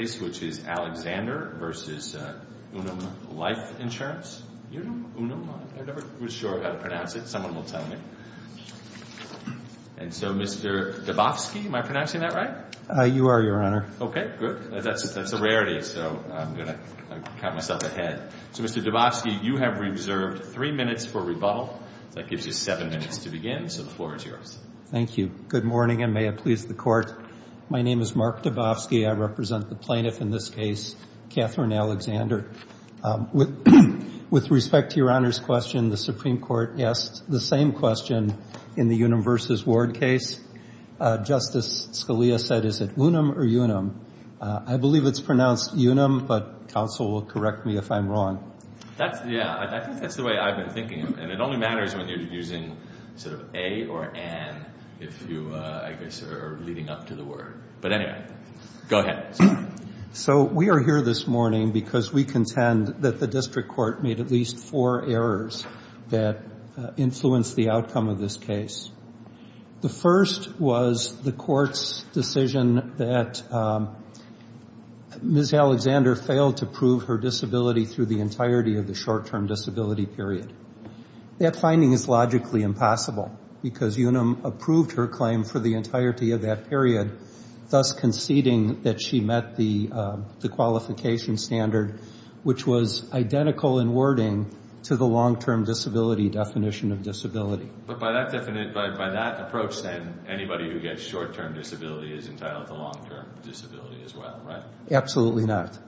Mr. Dubofsky, you have reserved 3 minutes for rebuttal. That gives you 7 minutes to begin, so the floor is yours. Thank you. Good morning, and may it please the Court. My name is Mark Dubofsky. I represent the plaintiff in this case, Catherine Alexander. With respect to Your Honor's question, the Supreme Court asked the same question in the Unum v. Ward case. Justice Scalia said, is it unum or unum? I believe it's pronounced unum, but counsel will correct me if I'm wrong. Yeah, I think that's the way I've been thinking, and it only matters when you're using sort of a or an if you, I guess, are leading up to the word. But anyway, go ahead. So we are here this morning because we contend that the district court made at least four errors that influenced the outcome of this case. The first was the court's decision that Ms. Alexander failed to prove her disability through the entirety of the short-term disability period. That finding is logically impossible, because Unum approved her claim for the entirety of that period, thus conceding that she met the qualification standard, which was identical in wording to the long-term disability definition of disability. But by that approach, then, anybody who gets short-term disability is entitled to long-term disability as well, right? Absolutely not.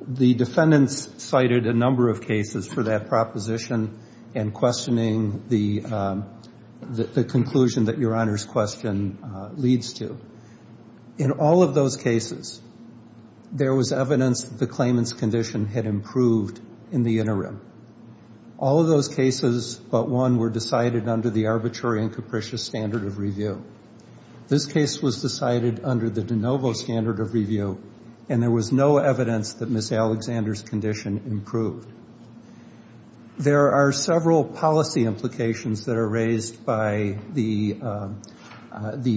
The defendants cited a number of cases for that proposition and questioning the conclusion that Your Honor's question leads to. In all of those cases, there was evidence that the claimant's condition had improved in the interim. All of those cases but one were decided under the arbitrary and capricious standard of review. This case was decided under the de novo standard of review, and there was no evidence that Ms. Alexander's condition improved. There are several policy implications that are raised by the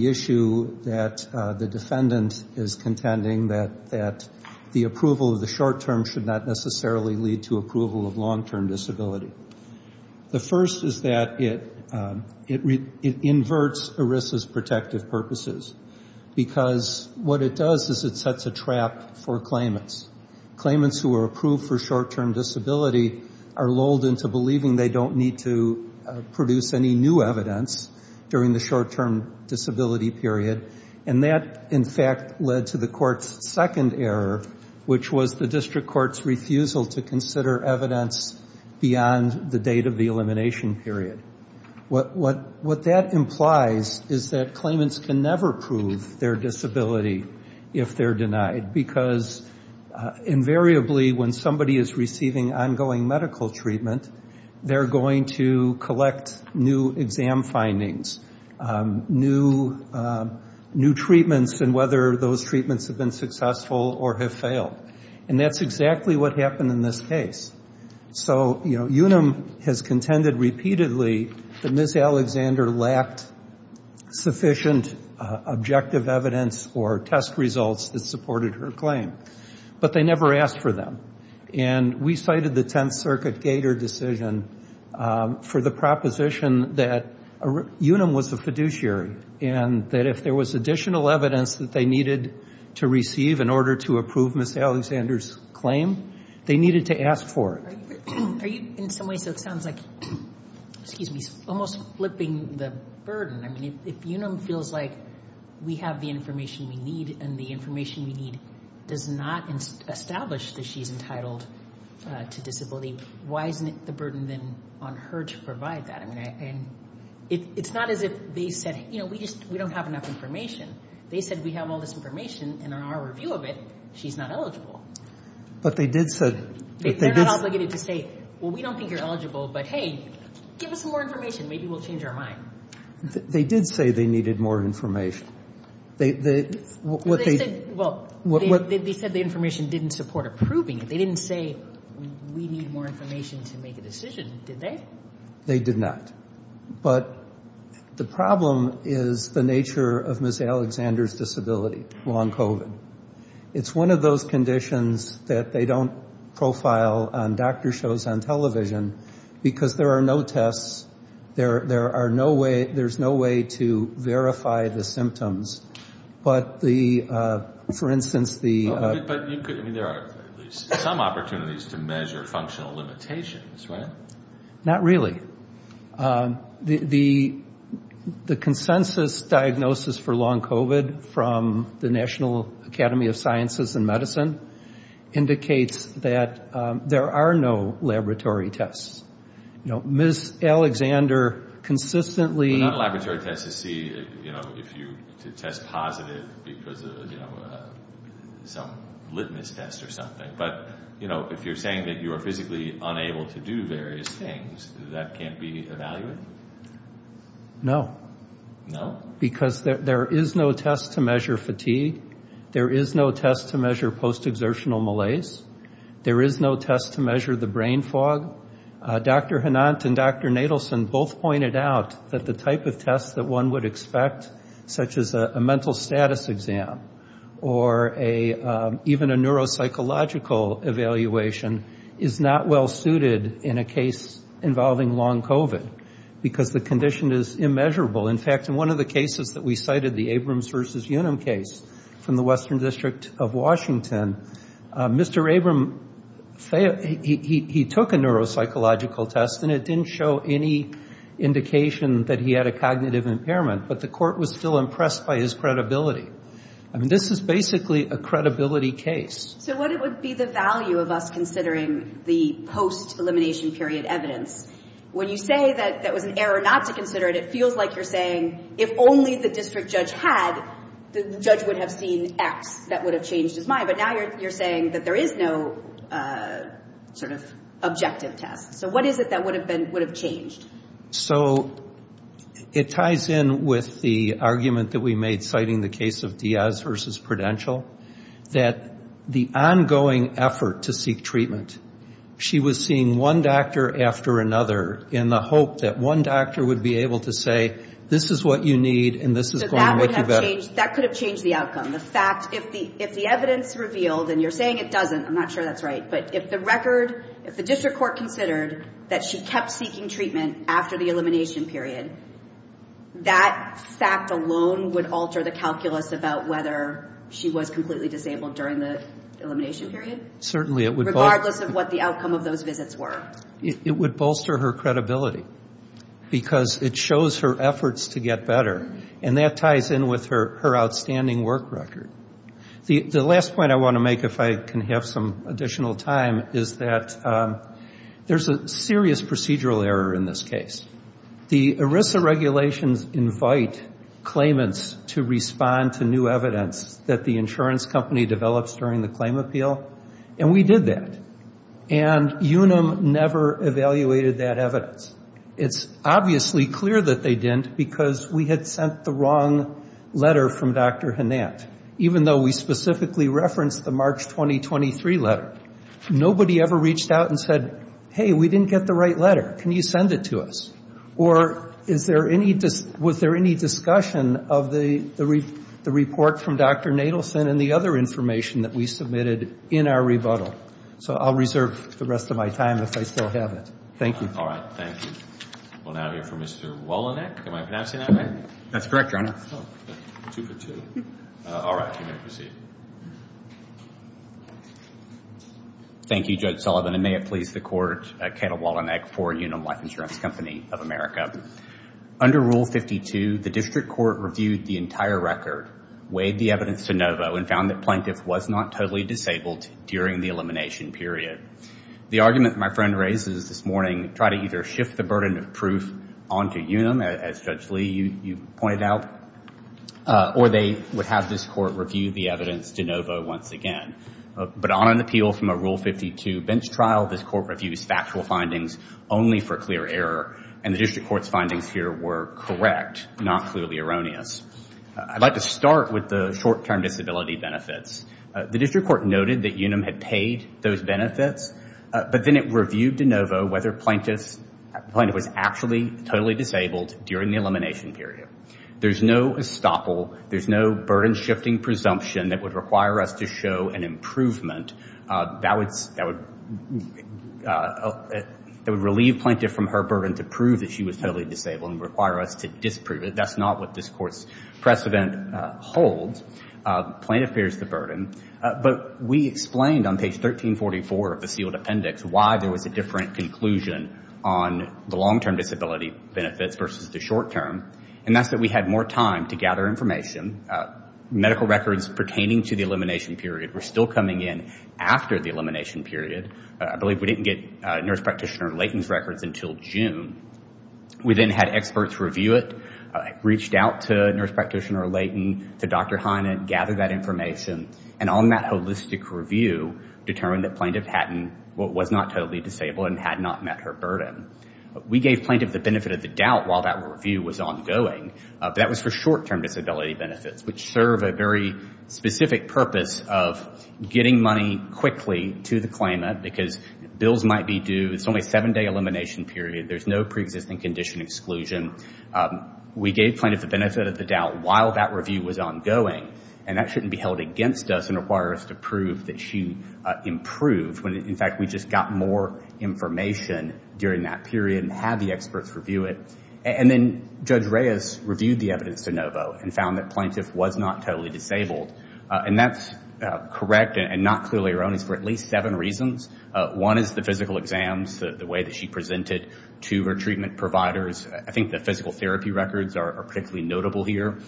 issue that the defendant is contending that the approval of the short-term should not necessarily lead to approval of long-term disability. The first is that it inverts ERISA's protective purposes, because what it does is it sets a trap for claimants. Claimants who are approved for short-term disability are lulled into believing they don't need to produce any new evidence during the short-term disability period. And that, in fact, led to the court's second error, which was the district court's refusal to consider evidence beyond the date of the elimination period. What that implies is that claimants can never prove their disability if they're denied, because invariably when somebody is receiving ongoing medical treatment, they're going to collect new exam findings, new treatments, and whether those treatments have been successful or have failed. And that's exactly what happened in this case. So, you know, Unum has contended repeatedly that Ms. Alexander lacked sufficient objective evidence or test results that supported her claim. But they never asked for them. And we cited the Tenth Circuit Gator decision for the proposition that Unum was the fiduciary, and that if there was additional evidence that they needed to receive in order to approve Ms. Alexander's claim, they needed to ask for it. Are you, in some ways, it sounds like, excuse me, almost flipping the burden. I mean, if Unum feels like we have the information we need and the information we need does not establish that she's entitled to disability, why isn't it the burden then on her to provide that? I mean, it's not as if they said, you know, we just, we don't have enough information. They said we have all this information, and on our review of it, she's not eligible. They're not obligated to say, well, we don't think you're eligible, but hey, give us some more information. Maybe we'll change our mind. They did say they needed more information. They said the information didn't support approving it. They didn't say we need more information to make a decision, did they? They did not. But the problem is the nature of Ms. Alexander's disability, long COVID. It's one of those conditions that they don't profile on doctor shows, on television, because there are no tests. There are no way, there's no way to verify the symptoms. But the, for instance, the... But you could, I mean, there are at least some opportunities to measure functional limitations, right? Not really. The consensus diagnosis for long COVID from the National Academy of Sciences and Medicine indicates that there are no laboratory tests. You know, Ms. Alexander consistently... But not laboratory tests to see, you know, if you, to test positive because of, you know, some litmus test or something. But, you know, if you're saying that you are physically unable to do various things, that can't be evaluated? No. No? Because there is no test to measure fatigue. There is no test to measure post-exertional malaise. There is no test to measure the brain fog. Dr. Hanant and Dr. Nadelson both pointed out that the type of tests that one would expect, such as a mental status exam, or even a neuropsychological evaluation, is not well suited in a case involving long COVID, because the condition is immeasurable. In fact, in one of the cases that we cited, the Abrams versus Unum case from the Western District of Washington, Mr. Abrams, he took a neuropsychological test, and it didn't show any indication that he had a cognitive impairment. But the court was still impressed by his credibility. I mean, this is basically a credibility case. So what would be the value of us considering the post-elimination period evidence? When you say that that was an error not to consider it, it feels like you're saying, if only the district judge had, the judge would have seen X. That would have changed his mind. But now you're saying that there is no sort of objective test. So what is it that would have changed? So it ties in with the argument that we made citing the case of Diaz versus Prudential, that the ongoing effort to seek treatment, she was seeing one doctor after another in the hope that one doctor would be able to say, this is what you need and this is going to make you better. That could have changed the outcome. The fact, if the evidence revealed, and you're saying it doesn't, I'm not sure that's right, but if the record, if the district court considered that she kept seeking treatment after the elimination period, that fact alone would alter the calculus about whether she was completely disabled during the elimination period? Certainly. Regardless of what the outcome of those visits were. It would bolster her credibility because it shows her efforts to get better, and that ties in with her outstanding work record. The last point I want to make, if I can have some additional time, is that there's a serious procedural error in this case. The ERISA regulations invite claimants to respond to new evidence that the insurance company develops during the claim appeal, and we did that. And UNAM never evaluated that evidence. It's obviously clear that they didn't because we had sent the wrong letter from Dr. Hanant, even though we specifically referenced the March 2023 letter. Nobody ever reached out and said, hey, we didn't get the right letter. Can you send it to us? Or was there any discussion of the report from Dr. Nadelson and the other information that we submitted in our rebuttal? So I'll reserve the rest of my time if I still have it. Thank you. All right. Thank you. We'll now hear from Mr. Wolonek. Am I pronouncing that right? That's correct, Your Honor. Oh, good. Two for two. All right. You may proceed. Thank you, Judge Sullivan, and may it please the Court, Cato Wolonek for UNAM Life Insurance Company of America. Under Rule 52, the district court reviewed the entire record, weighed the evidence to NOVO, and found that plaintiff was not totally disabled during the elimination period. The argument my friend raises this morning, try to either shift the burden of proof onto UNAM, as Judge Lee, you pointed out, or they would have this court review the evidence to NOVO once again. But on an appeal from a Rule 52 bench trial, this court reviews factual findings only for clear error, and the district court's findings here were correct, not clearly erroneous. I'd like to start with the short-term disability benefits. The district court noted that UNAM had paid those benefits, but then it reviewed to NOVO whether plaintiff was actually totally disabled during the elimination period. There's no estoppel, there's no burden-shifting presumption that would require us to show an improvement that would relieve plaintiff from her burden to prove that she was totally disabled and require us to disprove it. That's not what this court's precedent holds. Plaintiff bears the burden. But we explained on page 1344 of the sealed appendix why there was a different conclusion on the long-term disability benefits versus the short-term, and that's that we had more time to gather information. Medical records pertaining to the elimination period were still coming in after the elimination period. I believe we didn't get nurse practitioner latence records until June. We then had experts review it, reached out to nurse practitioner Layton, to Dr. Hynand, gathered that information, and on that holistic review, determined that plaintiff was not totally disabled and had not met her burden. We gave plaintiff the benefit of the doubt while that review was ongoing, but that was for short-term disability benefits, which serve a very specific purpose of getting money quickly to the claimant because bills might be due, it's only a seven-day elimination period, there's no preexisting condition exclusion. We gave plaintiff the benefit of the doubt while that review was ongoing, and that shouldn't be held against us and require us to prove that she improved when, in fact, we just got more information during that period and had the experts review it. And then Judge Reyes reviewed the evidence to Novo and found that plaintiff was not totally disabled, and that's correct and not clearly erroneous for at least seven reasons. One is the physical exams, the way that she presented to her treatment providers. I think the physical therapy records are particularly notable here.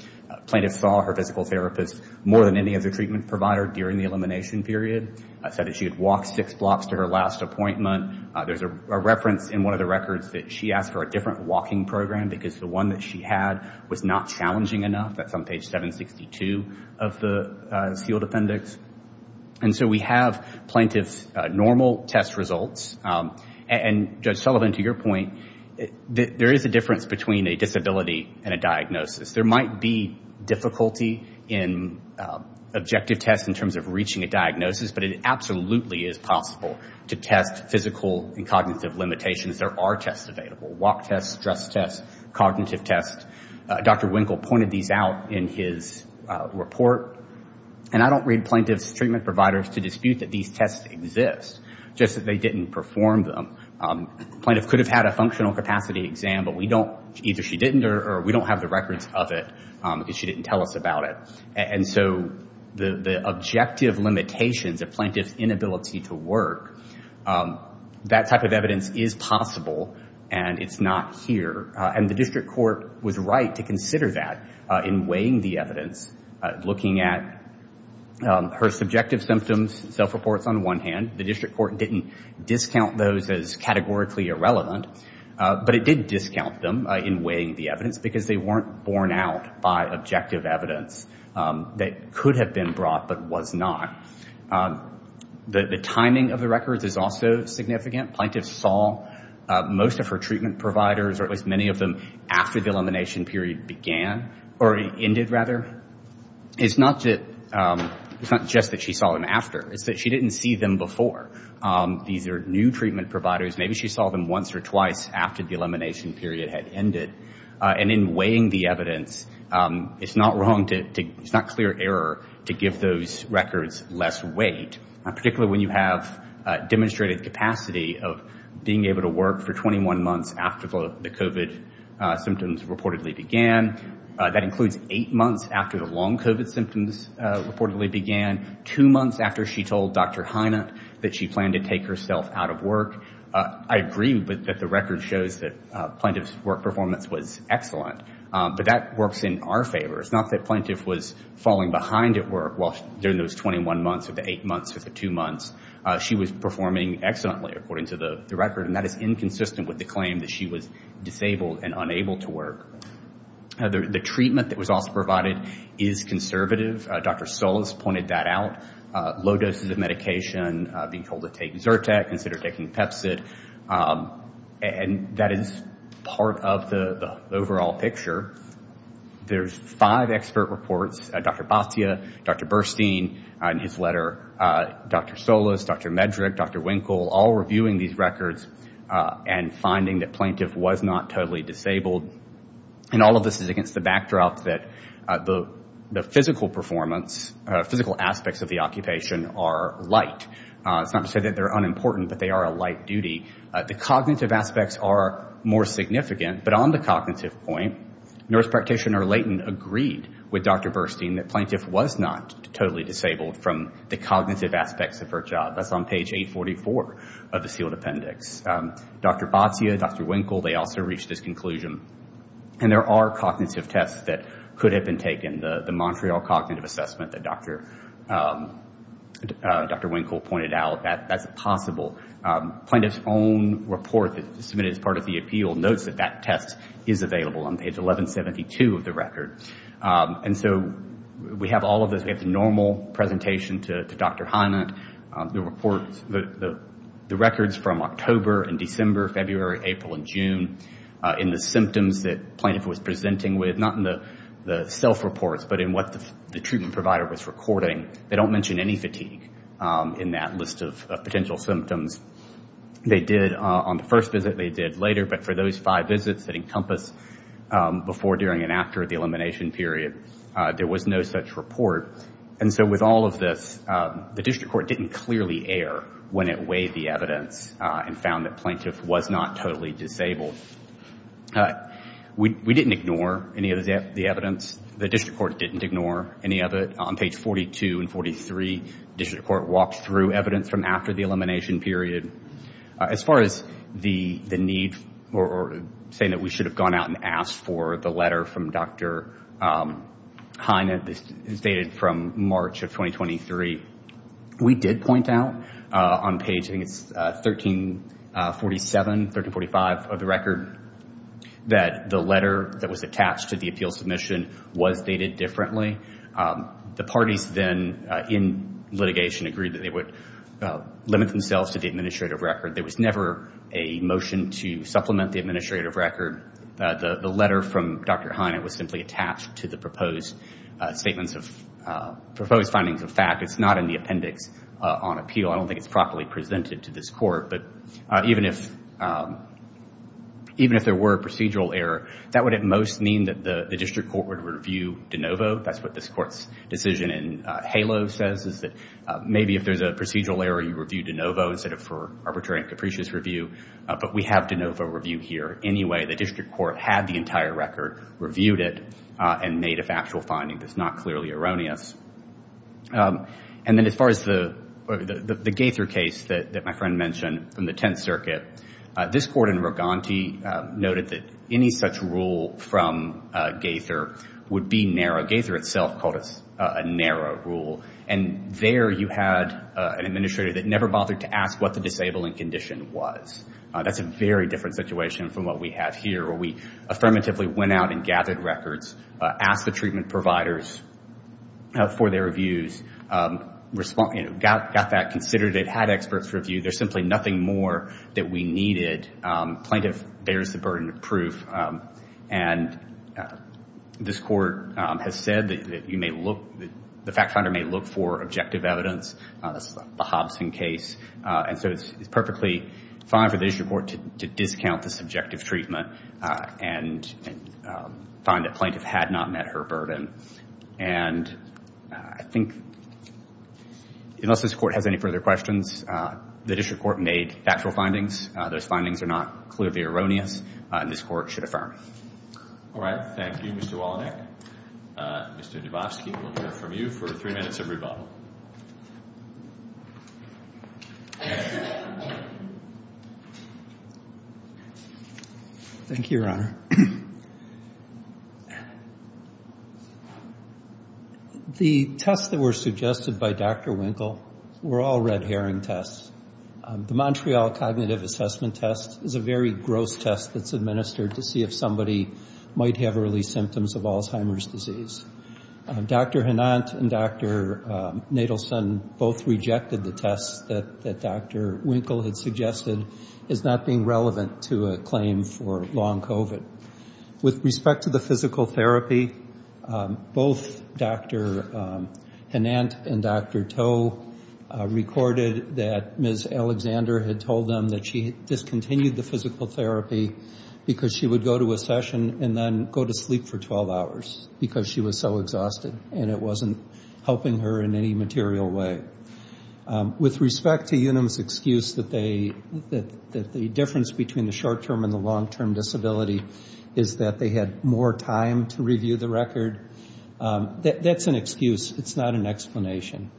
Plaintiff saw her physical therapist more than any other treatment provider during the elimination period, said that she had walked six blocks to her last appointment. There's a reference in one of the records that she asked for a different walking program because the one that she had was not challenging enough. That's on page 762 of the sealed appendix. And so we have plaintiff's normal test results. And, Judge Sullivan, to your point, there is a difference between a disability and a diagnosis. There might be difficulty in objective tests in terms of reaching a diagnosis, but it absolutely is possible to test physical and cognitive limitations. There are tests available, walk tests, stress tests, cognitive tests. Dr. Winkle pointed these out in his report. And I don't read plaintiff's treatment providers to dispute that these tests exist, just that they didn't perform them. Plaintiff could have had a functional capacity exam, but either she didn't or we don't have the records of it because she didn't tell us about it. And so the objective limitations of plaintiff's inability to work, that type of evidence is possible and it's not here. And the district court was right to consider that in weighing the evidence, looking at her subjective symptoms, self-reports on one hand. The district court didn't discount those as categorically irrelevant, but it did discount them in weighing the evidence because they weren't borne out by objective evidence that could have been brought but was not. The timing of the records is also significant. Plaintiff saw most of her treatment providers, or at least many of them, after the elimination period began or ended, rather. It's not just that she saw them after. It's that she didn't see them before. These are new treatment providers. Maybe she saw them once or twice after the elimination period had ended. And in weighing the evidence, it's not clear error to give those records less weight, particularly when you have demonstrated capacity of being able to work for 21 months after the COVID symptoms reportedly began. That includes eight months after the long COVID symptoms reportedly began, two months after she told Dr. Hynut that she planned to take herself out of work. I agree that the record shows that plaintiff's work performance was excellent, but that works in our favor. It's not that plaintiff was falling behind at work during those 21 months or the eight months or the two months. She was performing excellently, according to the record, and that is inconsistent with the claim that she was disabled and unable to work. The treatment that was also provided is conservative. Dr. Solis pointed that out. Low doses of medication, being told to take Zyrtec instead of taking Pepcid. And that is part of the overall picture. There's five expert reports, Dr. Batia, Dr. Burstein, and his letter, Dr. Solis, Dr. Medrick, Dr. Winkle, all reviewing these records and finding that plaintiff was not totally disabled. And all of this is against the backdrop that the physical performance, physical aspects of the occupation are light. It's not to say that they're unimportant, but they are a light duty. The cognitive aspects are more significant. But on the cognitive point, nurse practitioner Layton agreed with Dr. Burstein that plaintiff was not totally disabled from the cognitive aspects of her job. That's on page 844 of the sealed appendix. Dr. Batia, Dr. Winkle, they also reached this conclusion. And there are cognitive tests that could have been taken. The Montreal cognitive assessment that Dr. Winkle pointed out, that's possible. Plaintiff's own report submitted as part of the appeal notes that that test is available on page 1172 of the record. And so we have all of this. We have the normal presentation to Dr. Hyman. The records from October and December, February, April, and June. In the symptoms that plaintiff was presenting with, not in the self-reports, but in what the treatment provider was recording, they don't mention any fatigue in that list of potential symptoms. They did on the first visit. They did later. But for those five visits that encompass before, during, and after the elimination period, there was no such report. And so with all of this, the district court didn't clearly err when it weighed the evidence and found that plaintiff was not totally disabled. We didn't ignore any of the evidence. The district court didn't ignore any of it. On page 42 and 43, district court walked through evidence from after the elimination period. As far as the need or saying that we should have gone out and asked for the letter from Dr. Hyman, this is dated from March of 2023. We did point out on page, I think it's 1347, 1345 of the record, that the letter that was attached to the appeal submission was dated differently. The parties then, in litigation, agreed that they would limit themselves to the administrative record. There was never a motion to supplement the administrative record. The letter from Dr. Hyman was simply attached to the proposed findings of fact. It's not in the appendix on appeal. I don't think it's properly presented to this court. But even if there were a procedural error, that would at most mean that the district court would review de novo. That's what this court's decision in HALO says, is that maybe if there's a procedural error, you review de novo instead of for arbitrary and capricious review. But we have de novo review here anyway. The district court had the entire record, reviewed it, and made a factual finding that's not clearly erroneous. And then as far as the Gaither case that my friend mentioned from the Tenth Circuit, this court in Roganti noted that any such rule from Gaither would be narrow. Gaither itself called it a narrow rule. And there you had an administrator that never bothered to ask what the disabling condition was. That's a very different situation from what we have here, where we affirmatively went out and gathered records, asked the treatment providers for their reviews, got that considered. It had experts review. There's simply nothing more that we needed. Plaintiff bears the burden of proof. And this court has said that the fact finder may look for objective evidence. That's the Hobson case. And so it's perfectly fine for the district court to discount this objective treatment and find that plaintiff had not met her burden. And I think unless this court has any further questions, the district court made factual findings. Those findings are not clearly erroneous. And this court should affirm. All right. Thank you, Mr. Wallenach. Mr. Dubofsky, we'll hear from you for three minutes of rebuttal. Thank you, Your Honor. The tests that were suggested by Dr. Winkle were all red herring tests. The Montreal Cognitive Assessment Test is a very gross test that's administered to see if somebody might have early symptoms of Alzheimer's disease. Dr. Henant and Dr. Nadelson both rejected the tests that Dr. Winkle had suggested as not being relevant to a claim for long COVID. With respect to the physical therapy, both Dr. Henant and Dr. Toh recorded that Ms. Alexander had told them that she discontinued the physical therapy because she would go to a session and then go to sleep for 12 hours because she was so exhausted and it wasn't helping her in any material way. With respect to Unum's excuse that the difference between the short-term and the long-term disability is that they had more time to review the record, that's an excuse. It's not an explanation.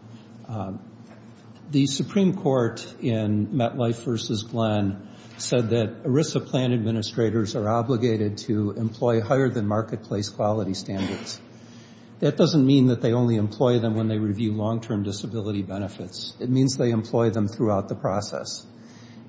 The Supreme Court in MetLife v. Glenn said that ERISA plan administrators are obligated to employ higher-than-marketplace quality standards. That doesn't mean that they only employ them when they review long-term disability benefits. It means they employ them throughout the process.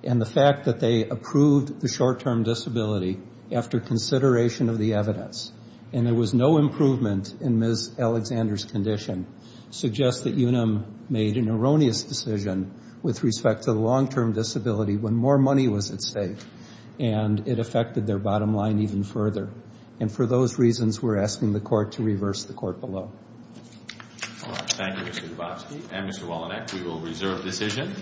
And the fact that they approved the short-term disability after consideration of the evidence and there was no improvement in Ms. Alexander's condition suggests that Unum made an erroneous decision with respect to the long-term disability when more money was at stake and it affected their bottom line even further. And for those reasons, we're asking the court to reverse the court below. Thank you, Mr. Dubofsky. And Mr. Wallenach, we will reserve decision.